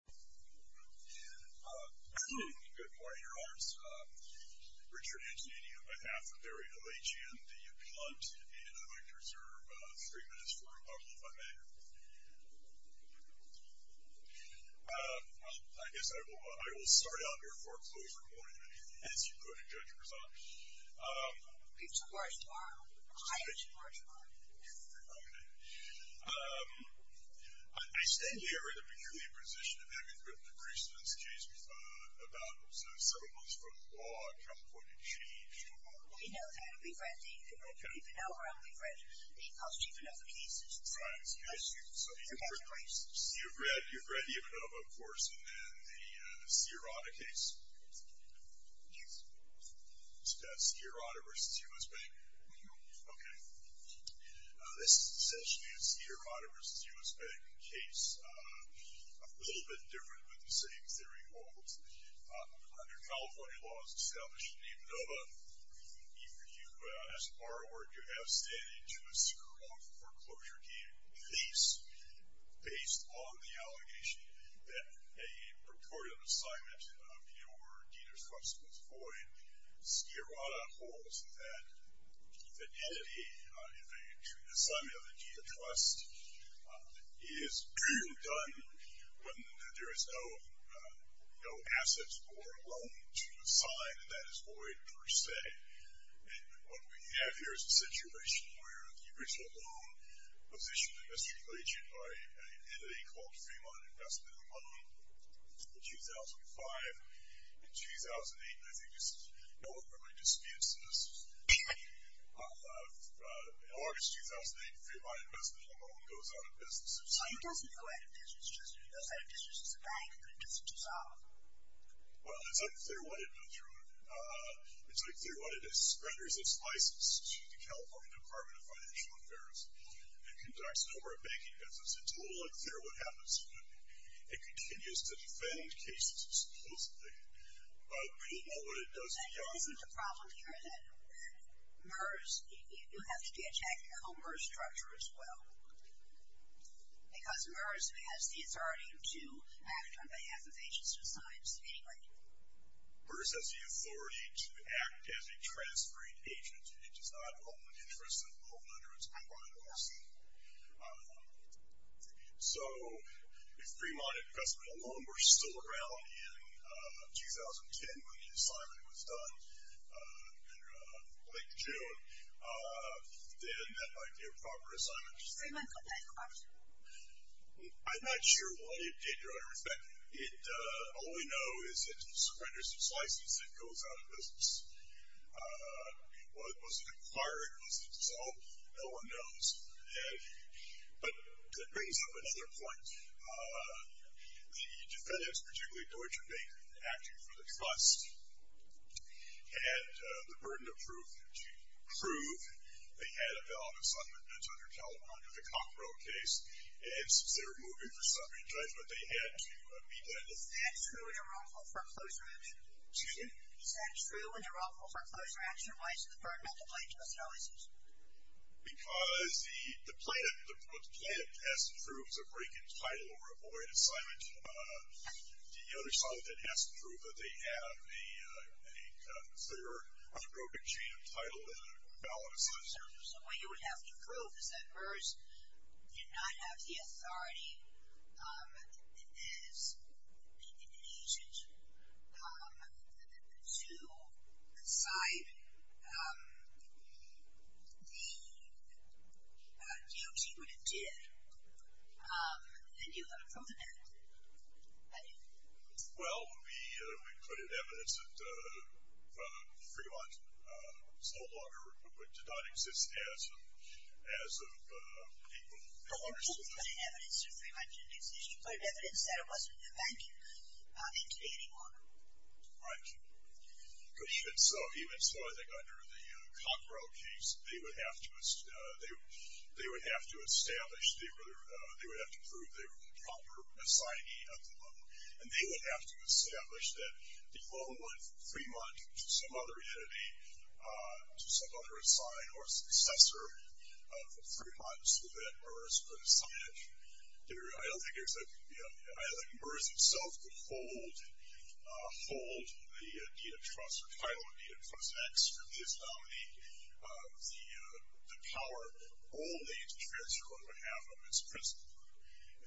Good morning, Your Honors. Richard Antonini on behalf of Barry Halajian, the Appellant, and I'd like to reserve three minutes for a couple of my matters. I guess I will start out here for a closer morning as you put it, Judge Prasad. It's a harsh morning. I had a harsh morning. I stand here in a peculiar position in having written the Priestman's case about syllables from law come for a change. He knows how to be friendly. People know how to be friendly. He calls cheap enough cases. You've read Ivanova, of course, and then the Sirota case? Yes. Sirota v. US Bank? Okay. This is essentially a Sirota v. US Bank case, a little bit different, but the same theory holds. Under California laws established in Ivanova, you, as a borrower, do have standing to a secure loan foreclosure. This would be based on the allegation that a purported assignment of your debtor's trust was void. Sirota holds that the entity, if an assignment of a debtor's trust is done when there is no assets or loan to assign, that is void per se. What we have here is a situation where the original loan was issued in this situation by an entity called Fremont Investment & Loan in 2005. In 2008, I think this is more of my disputes, in August 2008, Fremont Investment & Loan goes out of business. It doesn't go out of business. It goes out of business as a bank, but it doesn't dissolve. Well, it's unclear what it went through. It's unclear what it does. It renders its license to the California Department of Financial Affairs and conducts a number of banking visits. It's a little unclear what happens to it. It continues to defend cases, supposedly, but we don't know what it does beyond that. I think the problem here is that MERS, you have to be attacked by the whole MERS structure as well, because MERS has the authority to act on behalf of agents of science anyway. MERS has the authority to act as a transferring agent. It does not hold the interests of both under its own right, per se. So, if Fremont Investment & Loan were still around in 2010 when the assignment was done, late June, then that might be a proper assignment. Fremont could not acquire Fremont. I'm not sure why it did, in retrospect. All we know is it renders its license. It goes out of business. Was it acquired? Was it dissolved? No one knows. But that brings up another point. The defendants, particularly Deutsche Bank, acting for the trust, had the burden of proof. To prove, they had a bailout of some amendments under California, the Cockrell case, and since they were moving for summary judgment, they had to meet that. Is that true in the wrongful foreclosure action? Excuse me? Is that true in the wrongful foreclosure action? Why is it the burden of the plaintiff's notices? Because what the plaintiff has to prove is a broken title or a void assignment. The other side of that has to prove that they have a clear or a broken chain of title and a valid assignment. So what you would have to prove is that Merz did not have the authority as an agent to cite the duties he would have did. And you have to prove that. Well, we put in evidence that Fremont no longer did not exist as a legal entity. You didn't put in evidence that Fremont didn't exist. You put in evidence that it wasn't a banking entity anymore. Right. Even so, I think under the Cockrell case, they would have to establish, they would have to prove they were the proper assignee of the loan. And they would have to establish that the loan went from Fremont to some other entity, to some other assigned or successor of Fremont so that Merz could assign it. I don't think Merz himself could hold the deed of trust or title of deed of trust. I think that's his ability, the power only to transfer on behalf of his principal.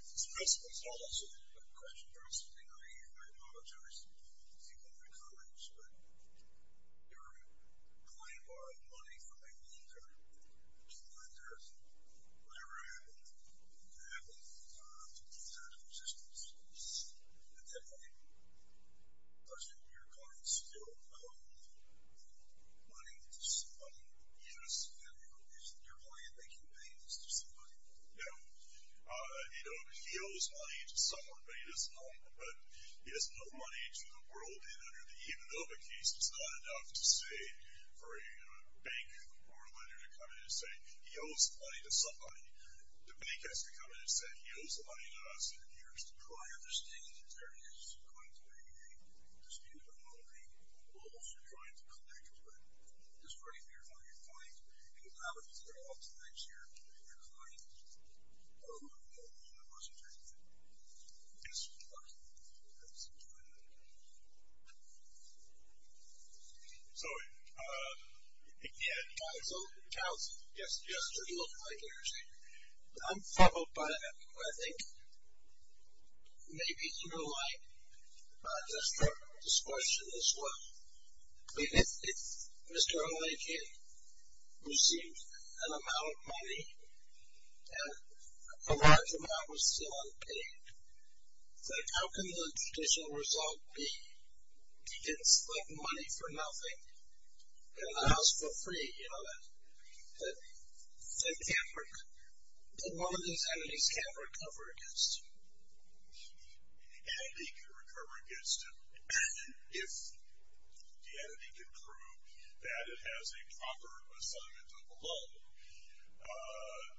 If the principal is also a question for us, I think I apologize to my colleagues, but your client borrowed money from a lender, a key lender, whatever happened, and that loan was not in existence. At that point, doesn't your client still owe money to somebody? Yes. Is your client making payments to somebody? No. You know, he owes money to someone, but he doesn't owe money to the world, even though the case is not enough to say for a bank or a lender to come in and say, he owes money to somebody. The bank has to come in and say, he owes money to us, and he has to try to understand that there is going to be a dispute among the roles you're trying to connect with. This right here is on your client. And if that was there all the time, is your client owed money? No. That wasn't there either. Yes. That's a good point. So, yeah. Counselor? Counselor? Yes. Yes. It looked like it. I'm fumbled by it. I think maybe you're right, just for discussion as well. I mean, if Mr. Olaykin received an amount of money and a large amount was still unpaid, how can the judicial result be, it's like money for nothing and a house for free, you know, that one of these entities can't recover against? An entity can recover against it if the entity can prove that it has a proper assignment of a loan.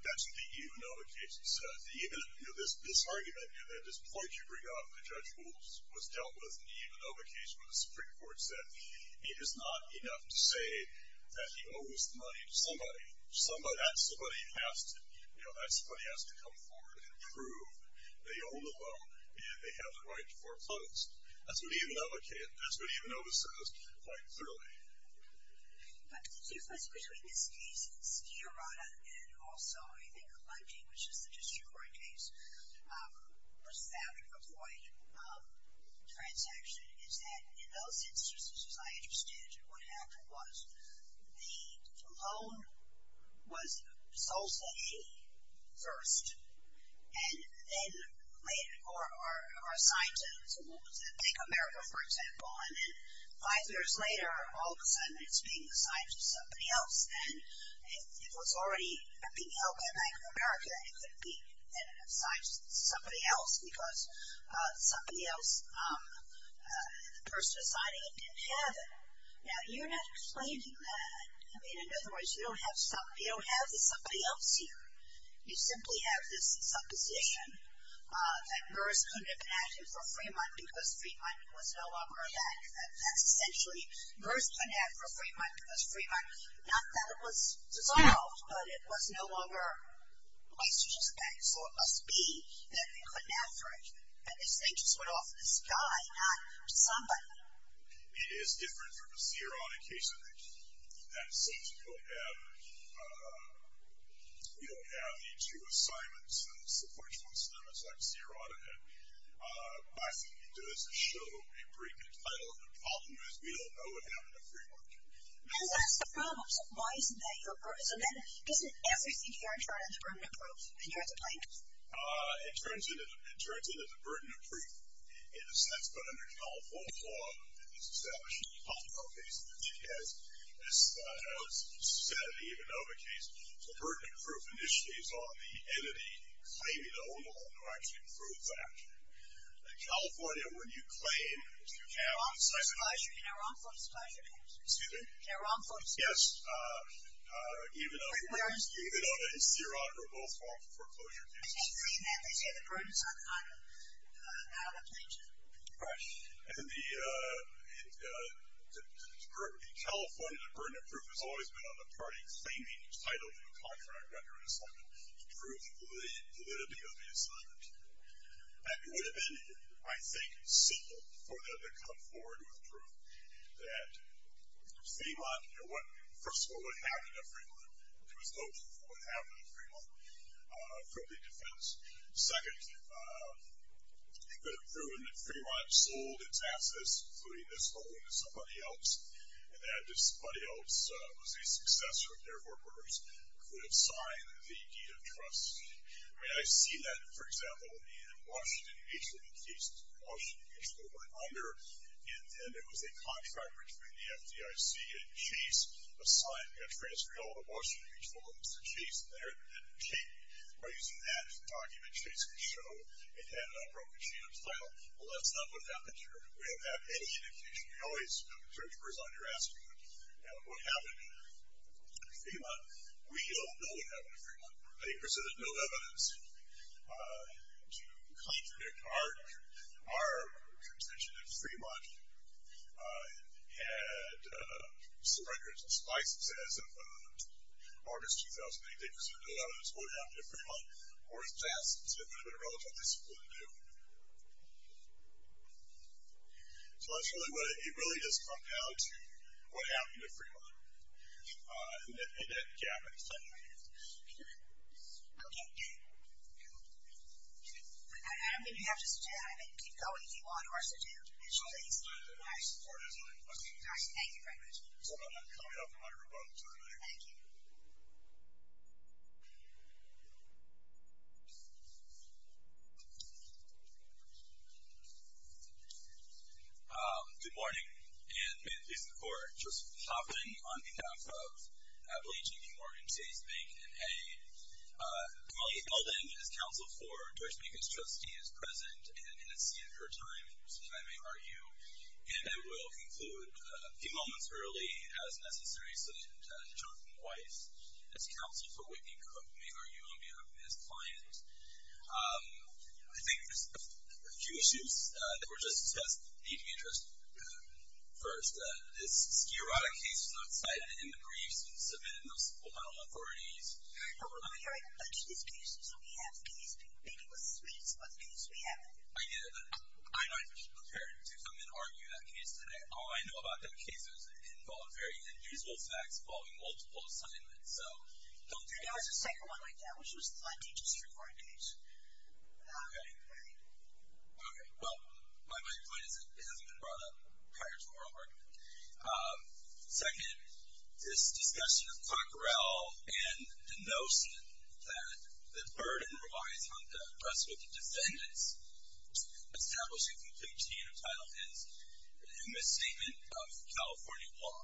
That's the E-Unova case. This argument, this point you bring up, the judge was dealt with, and the E-Unova case where the Supreme Court said it is not enough to say that he owes money to somebody, that somebody has to come forward and prove they own the loan and they have the right to foreclose. That's what the E-Unova case, that's what the E-Unova says quite clearly. I have two questions. Between this case and Sfiorata, and also I think Lemke, which is the district court case, which was found to avoid transaction, is that in those instances, as I understood it, what happened was the component was Solse first, and then later, or a scientist, I think America, for example, and then five years later, all of a sudden it's being assigned to somebody else, and if it was already being held by the Bank of America, it couldn't be assigned to somebody else, because somebody else, the person assigning it didn't have it. Now, you're not explaining that. I mean, in other words, you don't have somebody else here. You simply have this supposition that MERS couldn't have been added for Fremont because Fremont was no longer a bank. That's essentially MERS couldn't have for Fremont because Fremont, not that it was dissolved, but it was no longer a place to just bank, so it must be that they couldn't have for it, and this thing just went off in the sky, not to somebody. It is different from a Sfiorata case, I think, and since we don't have any two assignments, and so far it's one assignment, so I have Sfiorata, and I think it does show a pretty good title, and the problem is we don't know what happened to Fremont. Because that's the problem. So why isn't that your burden? So then isn't everything here in charge of the burden of proof, and you're at the blame? It turns into the burden of proof in a sense, but under California law, it's established in the Pompeo case, and it has, as was said in the Ivanova case, the burden of proof initially is on the entity claiming their own law and who actually approves that. In California, when you claim to have... Excuse me? Yes. Even on a Sfiorata, or both forms of foreclosure cases. Right. In California, the burden of proof has always been on the party claiming the title of a contract under an assignment to prove the validity of the assignment. And it would have been, I think, simple for them to come forward with proof that Fremont... First of all, what happened to Fremont? It was open for what happened to Fremont from the defense. Second, it could have proven that Fremont sold its assets, including this home, to somebody else, and that if somebody else was a successor of the Air Force, it could have signed the deed of trust. I mean, I see that, for example, in Washington Beach, one of the cases in Washington Beach that went under, and it was a contract between the FDIC and Chase, a transfer deal to Washington Beach for Mr. Chase, and by using that document, Chase could show it had a broken sheet of the title. Well, that's not what happened here. We haven't had any indication. We always... I'm sure it was on your asking what happened in Fremont. We don't know what happened in Fremont. They presented no evidence to contradict our contention that Fremont had some records and spices, as of August 2008. They presented no evidence of what happened to Fremont or its assets. It would have been relatively simple to do. So that's really what... It really does come down to what happened to Fremont and that gap in the settlement. Okay. Adam, did you have to say something? I mean, keep going if you want, or I'll sit down. Please. Thank you very much. So I'm not coming up on your remarks, are I? Thank you. Good morning. And may it please the Court, Joseph Hoffman on behalf of Abilene J.B. Morgan, Chase Bank, and A. Kamali Eldon is counsel for George Bacon's trustee is present and has ceded her time, so I may argue. And I will conclude a few moments early as necessary so that Whitney could make her own view on behalf of his client. I think there's a few issues that were just discussed that need to be addressed first. This Skirata case was not cited in the briefs and submitted in the support by all authorities. Over the year, a bunch of these cases we have, these people think it was sweet, so let's do this. We have it. I get it. I might just be prepared to come and argue that case today. All I know about that case is it involved very unusual facts involving multiple assignments. There was a second one like that, which was the Lundy District Court case. Okay. All right. Well, my point is it hasn't been brought up prior to oral argument. Second, this discussion of Coquerel and the notion that the burden relies on the rest of the defendants establishing complete change of title is a misstatement of California law.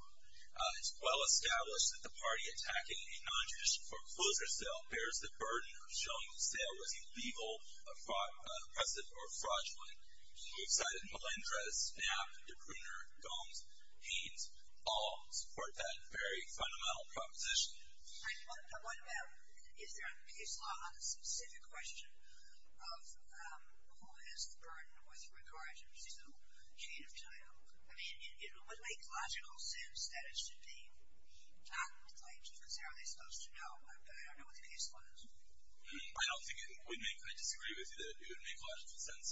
It's well established that the party attacking a nonjudicial foreclosure sale bears the burden of showing the sale was illegal, oppressive, or fraudulent. We've cited Melendrez, Knapp, DePruner, Gomes, Haynes, all support that very fundamental proposition. I wonder if there are case law on the specific question of who has the burden with regard to seasonal change of title. I mean, it would make logical sense that it should be done. Like, because how are they supposed to know? I don't know what the case law is. I don't think it would make – I disagree with you that it would make logical sense.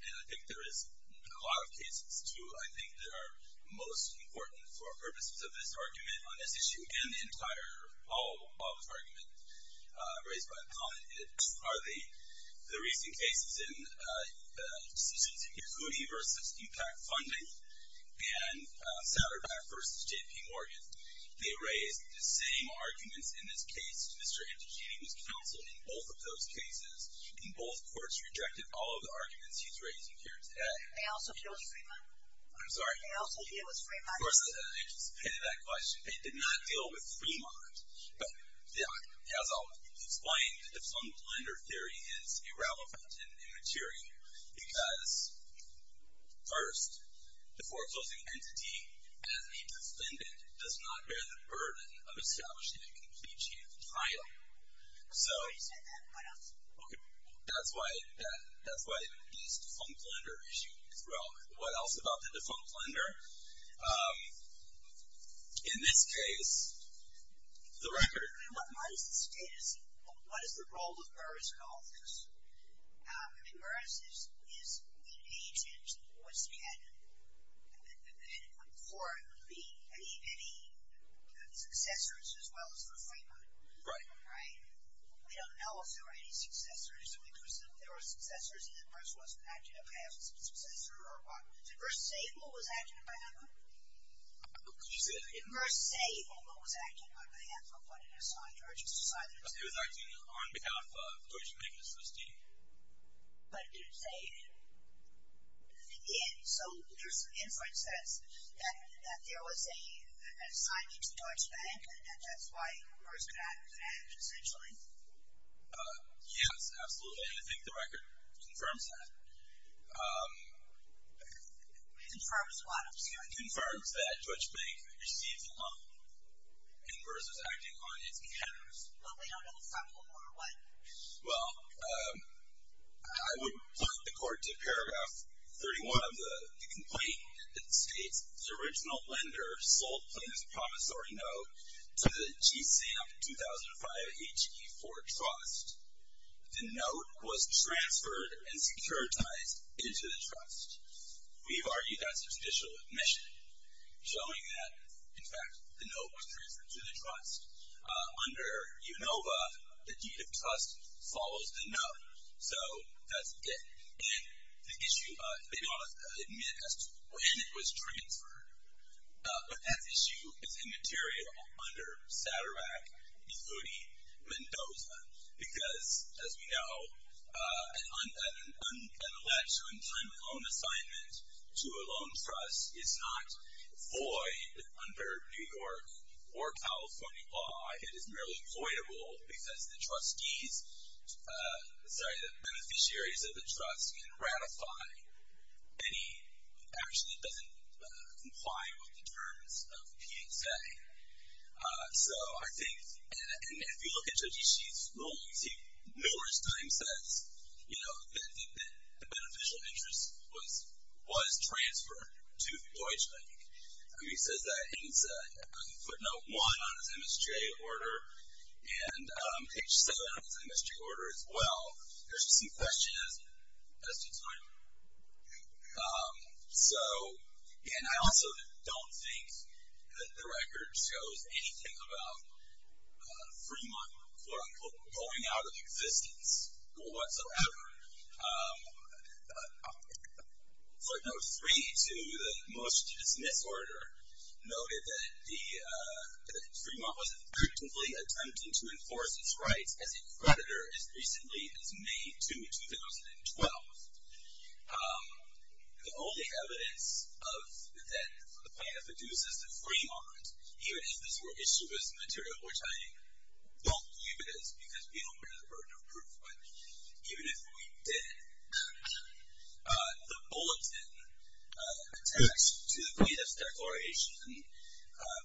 And I think there is a lot of cases, too, I think that are most important for purposes of this argument on this issue and the entire – all of this argument raised by a comment. The recent cases in Hoody v. Impact Funding and Satterbach v. J.P. Morgan, they raised the same arguments in this case. Mr. Antichini was counseled in both of those cases, and both courts rejected all of the arguments he's raising here today. They also deal with Fremont? I'm sorry? They also deal with Fremont? Of course, I just pitted that question. They did not deal with Fremont. But, as I'll explain, the defunct lender theory is irrelevant and immaterial because, first, the foreclosing entity, as a defendant, does not bear the burden of establishing a complete chance of trial. So – What else? Okay. That's why – that's why these defunct lender issues – well, what else about the defunct lender? In this case, the record – I mean, what is the status? What is the role of Burris in all of this? I mean, Burris is the agent who was head for any successors as well as for Fremont. Right. Right? We don't know if there were any successors. If there were successors, then Burris wasn't acting as a successor or what? Did Burris say who was acting on behalf of him? He did. Did Burris say who was acting on behalf of what it assigned to urgent society? It was acting on behalf of George Magnus V. But did it say – So there's some inference that there was an assignment to Deutsche Bank, and that's why Burris could act, essentially. Yes, absolutely, and I think the record confirms that. It confirms what? It confirms that Deutsche Bank received a loan, and Burris was acting on its behalf. But we don't know if that was a loan or what. Well, I would put the court to Paragraph 31 of the complaint. It states, The original lender sold Plains Promissory Note to the GSAMP 2005-HE4 Trust. The note was transferred and securitized into the trust. We've argued that's a judicial admission, showing that, in fact, the note was transferred to the trust. Under UNOVA, the deed of trust follows the note, so that's it. And the issue, they don't admit when it was transferred, but that issue is immaterial under SADRAC and UDI Mendoza because, as we know, an election on time and loan assignment to a loan trust is not void under New York or California law. It is merely voidable because the beneficiaries of the trust can ratify. Actually, it doesn't comply with the terms of PSA. So I think, and if you look at Judge Ishii's loans, he numerous times says that the beneficial interest was transferred to Deutsche Bank. He says that in footnote 1 on his MSJ order and H7 on his MSJ order as well. There's just some questions as to time. So, and I also don't think that the record shows anything about Fremont, quote-unquote, going out of existence whatsoever. Footnote 3 to the most dismissed order noted that Fremont was effectively attempting to enforce its rights as a creditor as recently as May 2, 2012. The only evidence that the plaintiff induces that Fremont, even if this were issued as immaterial, which I don't believe it is because we don't bear the burden of proof, but even if we did, the bulletin attached to the plaintiff's declaration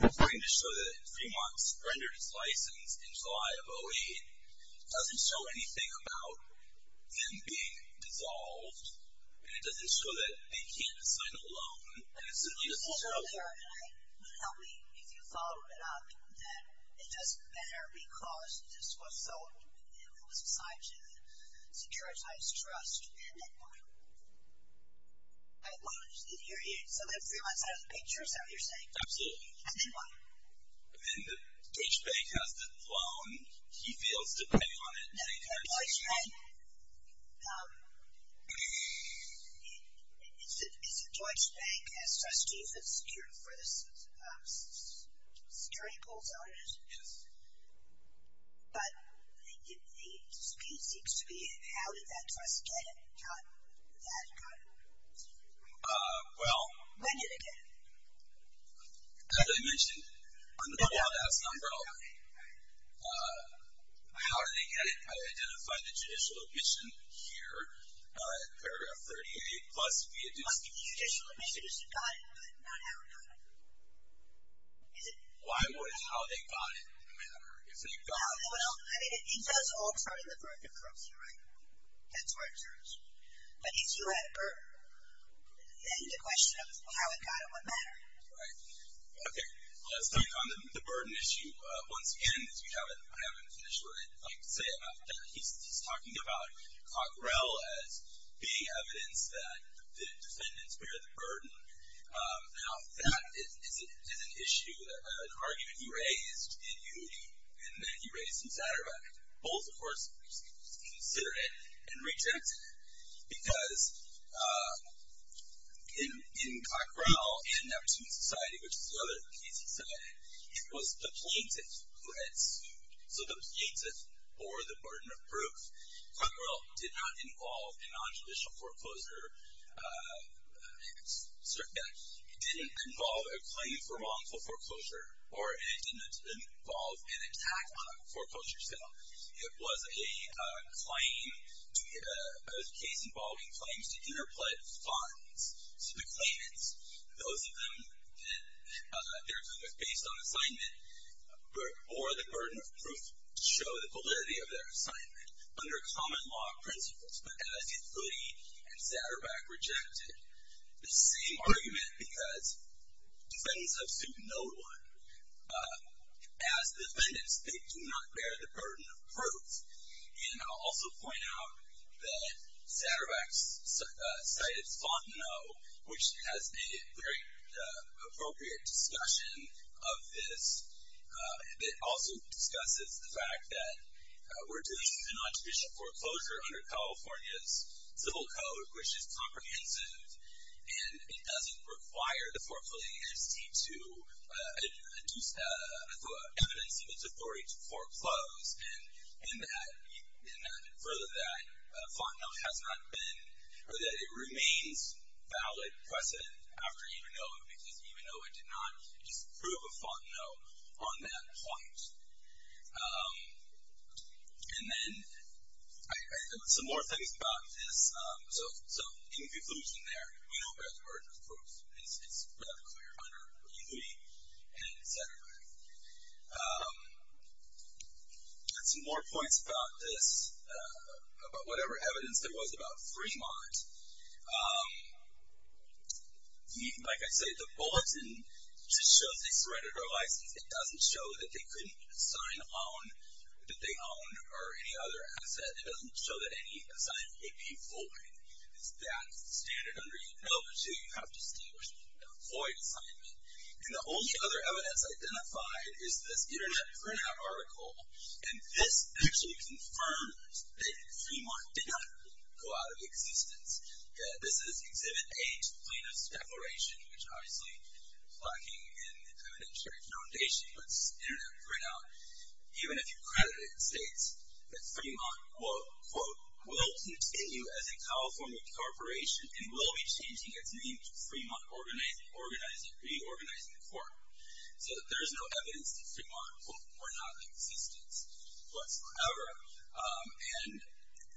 referring to show that Fremont surrendered its license in July of 08 doesn't show anything about them being dissolved, and it doesn't show that they can't sign a loan. And it simply doesn't show that. Can you tell me, if you follow it up, that it doesn't matter because this was sold and it was assigned to the Securitized Trust, and then what? I don't understand the area. So then Fremont's out of the picture, is that what you're saying? Absolutely. And then what? The Deutsche Bank has the loan. He fails to pay on it. The Deutsche Bank? Is the Deutsche Bank a trustee that's secured for the security bulldozers? Yes. But the speech seems to be, how did that trust get it? How did that go? Well. When did it get it? As I mentioned, I'm going to go out and ask my brother-in-law. How did they get it? I identified the judicial admission here, paragraph 38, plus the additional admission. But the judicial admission is who got it, not how it got it. Why would how they got it matter? Well, I mean, it does alter the birth and currency, right? That's where it turns. But if you had a burden, then the question of how it got it would matter. Right. Okay. Let's talk on the burden issue once again, because I haven't finished what I'd like to say about that. He's talking about Cockrell as being evidence that the defendants bear the burden. Now, that is an issue, an argument he raised in UD, and then he raised in Satterbeck. Both, of course, consider it and reject it. Because in Cockrell and Never Student Society, which is the other case he said, it was the plaintiff who had sued. So the plaintiff bore the burden of proof. Cockrell did not involve a nontraditional foreclosure. It didn't involve a claim for wrongful foreclosure, or it didn't involve an attack on a foreclosure settlement. It was a claim, a case involving claims to interpolate funds to the claimants. Those of them that their claim was based on assignment bore the burden of proof to show the validity of their assignment under common law principles. But as Uddi and Satterbeck rejected the same argument, because defendants have sued no one. As defendants, they do not bear the burden of proof. And I'll also point out that Satterbeck cited Fontenot, which has a very appropriate discussion of this. It also discusses the fact that we're dealing with a nontraditional foreclosure under California's civil code, which is comprehensive, and it doesn't require the foreclosure agency to induce evidence of its authority to foreclose. And further to that, Fontenot has not been, or that it remains, valid precedent after Emanoa, because Emanoa did not disprove of Fontenot on that point. And then some more things about this. So in conclusion there, we don't bear the burden of proof. It's rather clear under Uddi and Satterbeck. And some more points about this, about whatever evidence there was about Fremont. Like I said, the bulletin just shows they surrendered their license. It doesn't show that they couldn't sign on, that they owned, or any other asset. It doesn't show that any assignment would be void. That's the standard under Uddo. So you have to distinguish between a void assignment. And the only other evidence identified is this internet printout article. And this actually confirms that Fremont did not go out of existence. This is Exhibit A to the plaintiff's declaration, which obviously is lacking in evidentiary foundation. But this internet printout, even if you credit it, indicates that Fremont, quote, quote, will continue as a California corporation and will be changing its name to Fremont Reorganizing Corp. So there's no evidence that Fremont, quote, were not in existence whatsoever. And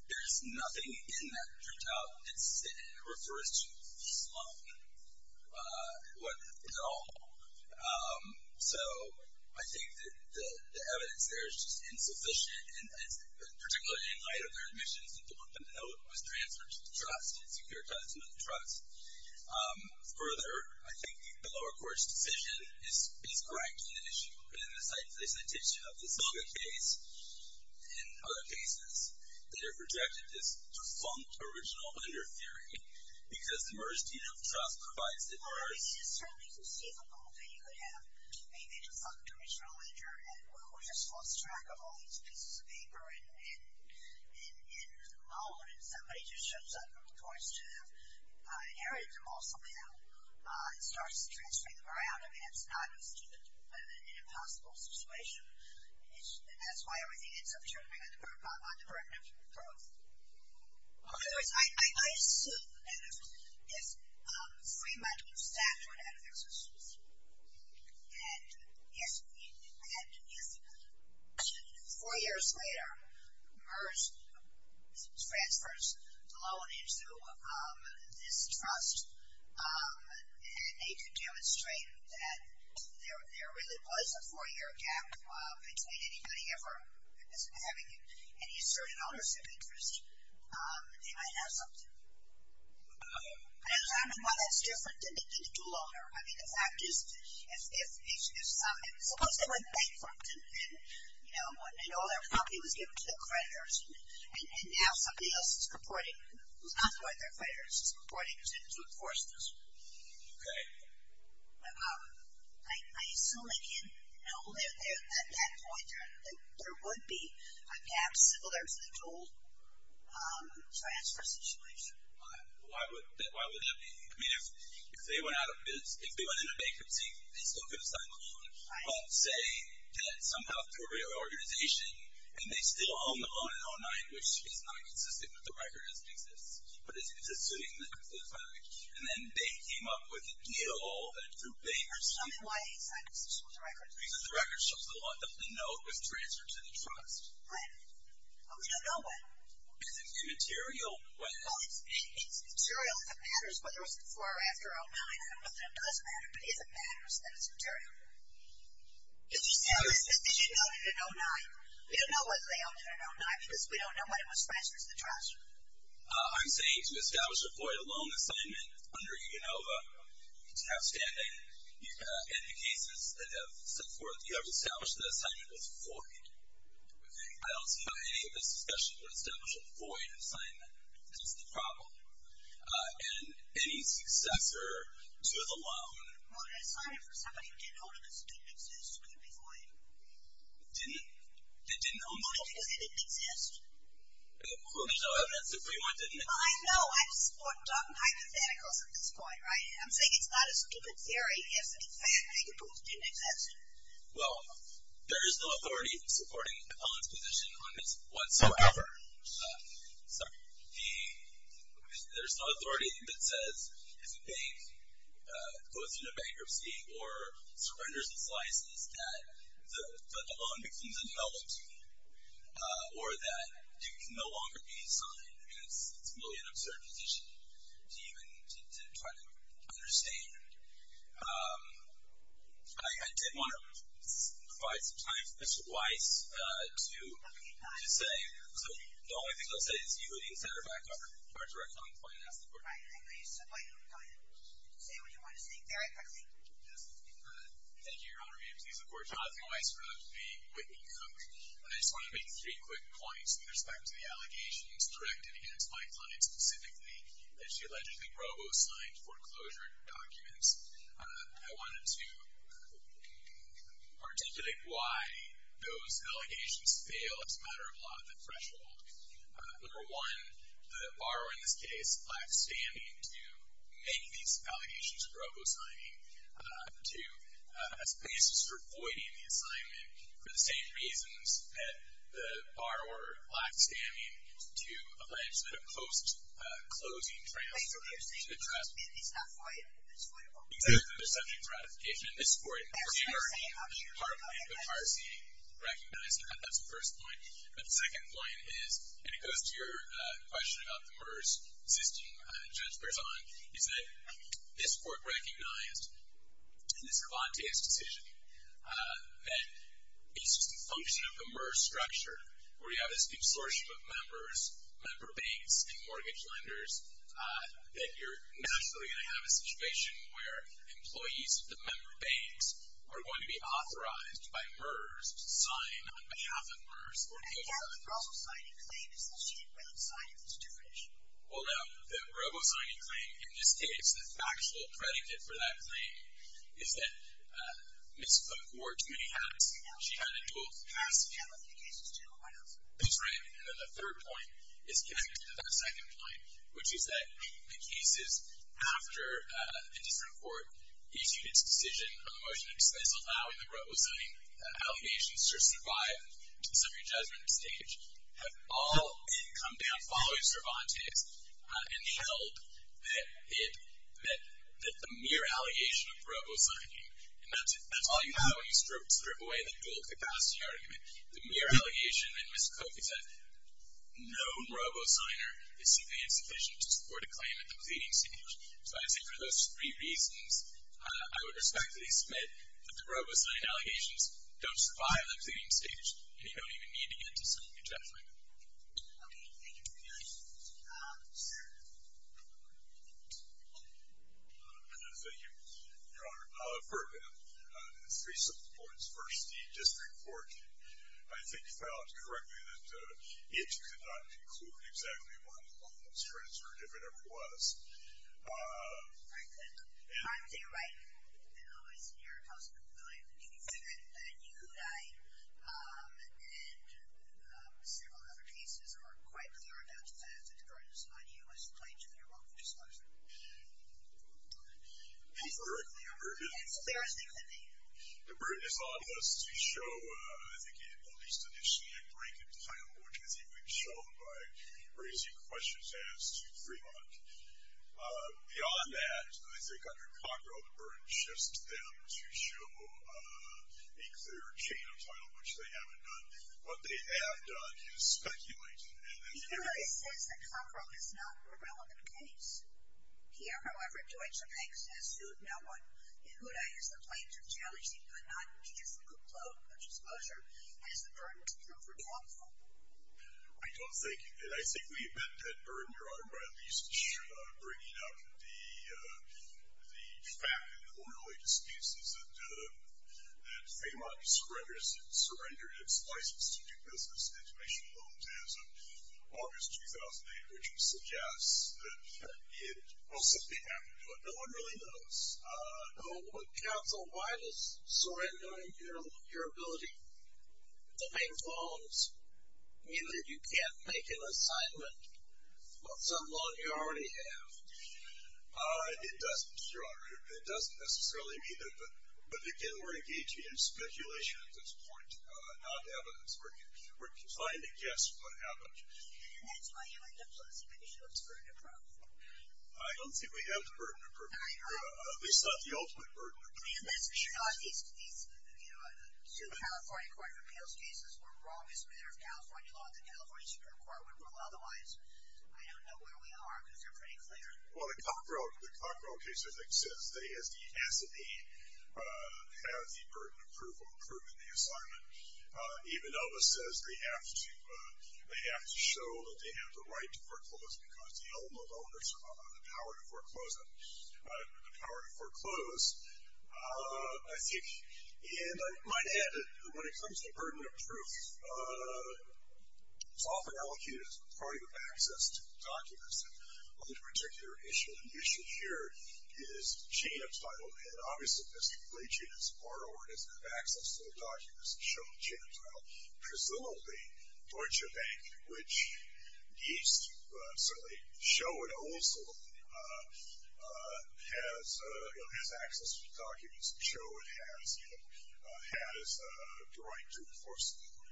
there's nothing in that printout that refers to Fremont at all. So I think that the evidence there is just insufficient, particularly in light of their admissions. People want them to know it was transferred to the trust and securitized under the trust. Further, I think the lower court's decision is correct in an issue. But in the citation of the Zillow case and other cases, they have rejected this defunct original under theory because the merged unit of trust provides it is certainly conceivable that you could have a defunct original under, and we just lost track of all these pieces of paper in the moment. And somebody just shows up from the courts to have inherited them all somehow and starts transferring them around. I mean, it's not an impossible situation. And that's why everything ends up turning on the burden of proof. In other words, I assume that if Fremont and Stafford had an existence, and if four years later merged transfers loaned into this trust, and they could demonstrate that there really was a four-year gap between anybody ever having any assertive ownership interest, they might have something. And I don't know why that's different than the dual owner. I mean, the fact is, suppose they went bankrupt, and all their property was given to the creditors, and now somebody else is purporting, who's not the right creditors, is purporting to enforce this. OK. I assume at that point there would be a gap similar to the dual. So I ask for a situation. Why would that be? I mean, if they went into bankruptcy, they still could have signed the loan. But say that somehow through a reorganization, and they still own the loan in 09, which is not consistent with the record as it exists. But it's a sitting that could still be fined. And then they came up with a deal that through bankruptcy. I mean, why is that consistent with the record? Because the record shows the loan, the note was transferred to the trust. What? Well, we don't know what. Because it's material. Well, it's material. If it matters whether it was before or after 09, I don't know if it does matter. But if it matters, then it's material. Did you note it in 09? We don't know whether they owned it in 09, because we don't know when it was transferred to the trust. I'm saying to establish a void of loan assignment under UNOVA is outstanding. In the cases that have set forth, you have established that assignment was void. I don't see why any of this discussion would establish a void assignment. That's the problem. And any successor to the loan. Well, the assignment for somebody who didn't own it because it didn't exist could be void. Didn't it? It didn't own the loan because it didn't exist. Well, there's no evidence if anyone didn't exist. Well, I know. I just thought hypotheticals at this point, right? I'm saying it's not a stupid theory if a hypothetical didn't exist. Well, there is no authority in supporting Ellen's position on this whatsoever. Sorry. There's no authority that says if a bank goes into bankruptcy or surrenders its license that the loan becomes a novelty or that it can no longer be signed. I mean, it's really an absurd position to even try to understand. I did want to provide some time for Mr. Weiss to say. So the only thing I'll say is you would instead are backed off of our direct funding plan. I know you said my plan. Say what you want to say very quickly. Thank you, Your Honor. May it please the Court. Jonathan Weiss for the Whitney Court. And I just want to make three quick points with respect to the allegations directed against my client specifically that she allegedly robo-signed foreclosure documents. I wanted to articulate why those allegations fail as a matter of law at that threshold. Number one, the borrower in this case lacks standing to make these allegations of robo-signing as a basis for voiding the assignment for the same reasons that the borrower lacked standing to allege that a post-closing transfer has been addressed. Wait, so you're saying that he's not violated in this way at all? Exactly. There's subject to ratification in this court. That's what you're saying? I'm sure you're not saying that. Partly. The parsee recognized that. That's the first point. But the second point is, and it goes to your question about the murders existing judge bears on, is that this court recognized in this Galante's decision that it's just a function of the MERS structure, where you have this consortium of members, member banks, and mortgage lenders, that you're naturally going to have a situation where employees of the member banks are going to be authorized by MERS to sign on behalf of MERS. And so the robo-signing claim is associated with signing this definition? Well, no. The robo-signing claim, in this case, the factual predicate for that claim is that Ms. Cook wore too many hats. She had a dual cast. She had a few cases, too. I know. That's right. And then the third point is connected to that second point, which is that the cases after a different court issued its decision on the motion of dismissal, allowing the robo-signing allegations to survive to the summary judgment stage, have all come down following Cervantes. And the help that the mere allegation of robo-signing, and that's all you have when you strip away the dual capacity argument. The mere allegation, and Ms. Cook has said, no robo-signer is simply insufficient to support a claim at the pleading stage. So I would say for those three reasons, I would respectfully submit that the robo-signing allegations don't survive the pleading stage. And you don't even need to get to summary judgment. Sir? Thank you, Your Honor. For three simple points. First, the district court, I think, found correctly that the issue could not include exactly one law that was transferred, if it ever was. Frankly, I would say right now, it's in your House of Appellate. You can say that. But then you, who died, and several other cases are quite clear enough to say that the verdict is not a U.S. claim to the European disclosure. The verdict, the burden. It's as clear as they can be. The burden is on us to show, I think, at least initially, a break in title, which I think we've shown by raising questions as to Fremont. Beyond that, I think under Cockrell, the burden shifts to them to show a clear chain of title, which they haven't done. What they have done is speculate. Even though it says that Cockrell is not a relevant case. Here, however, Deutsche Bank says, who'd I use the plaintiff's challenge if he could not use the conclusion of disclosure as the burden to come from lawful? I don't think, and I think we've been at burden, Your Honor, by at least bringing up the fact that the orderly disputes is that Fremont surrenders its license to do business in relation to loans as of August 2008, which suggests that, well, something happened, but no one really knows. Counsel, why does surrendering your ability to make loans mean that you can't make an assignment on some loan you already have? It doesn't, Your Honor. It doesn't necessarily mean that, but again, we're engaging in speculation at this point, not evidence. We're trying to guess what happened. And that's why you would disclose to make sure it's burden-approved. I don't think we have the burden-approved. At least not the ultimate burden-approved. Your Honor, these two California Court of Appeals cases were wrong as a matter of California law, and the California Supreme Court would rule otherwise. Well, the Cockrell case, I think, says they, as the S&E, have the burden of proof of approving the assignment. Even Elvis says they have to show that they have the right to foreclose because the L&L donors have the power to foreclose them. The power to foreclose, I think. And I might add that when it comes to burden of proof, it's often allocated as part of your access to documents on this particular issue. The issue here is chain of title. And obviously, this great chain of title has access to the documents that show the chain of title. Presumably, Deutsche Bank, which needs to show it also, has access to the documents that show it has the right to enforce the law.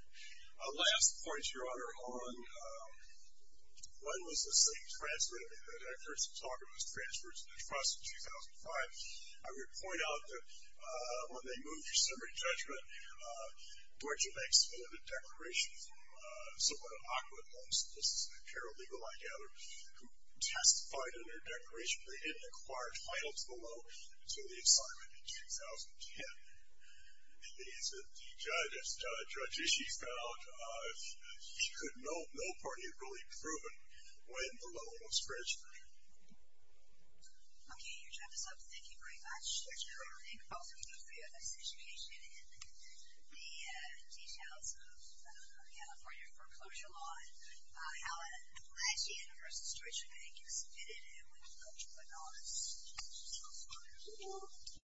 Last point, Your Honor, on when was the same transfer? I mean, I've heard some talk of this transfer to the trust in 2005. I would point out that when they moved to summary judgment, Deutsche Bank submitted a declaration from someone in Occoquan Homes. This is a paralegal, I gather, who testified in their declaration. They didn't acquire title to the loan until the assignment in 2010. And the judge, as Judge Ishii found out, he could know no party had really proven when the loan was transferred. OK. Your time is up. Thank you very much, Judge Kramer. Thank both of you for your participation in the details of California foreclosure law and how a legitimate person, Deutsche Bank, submitted it and went to court to acknowledge it. Thank you.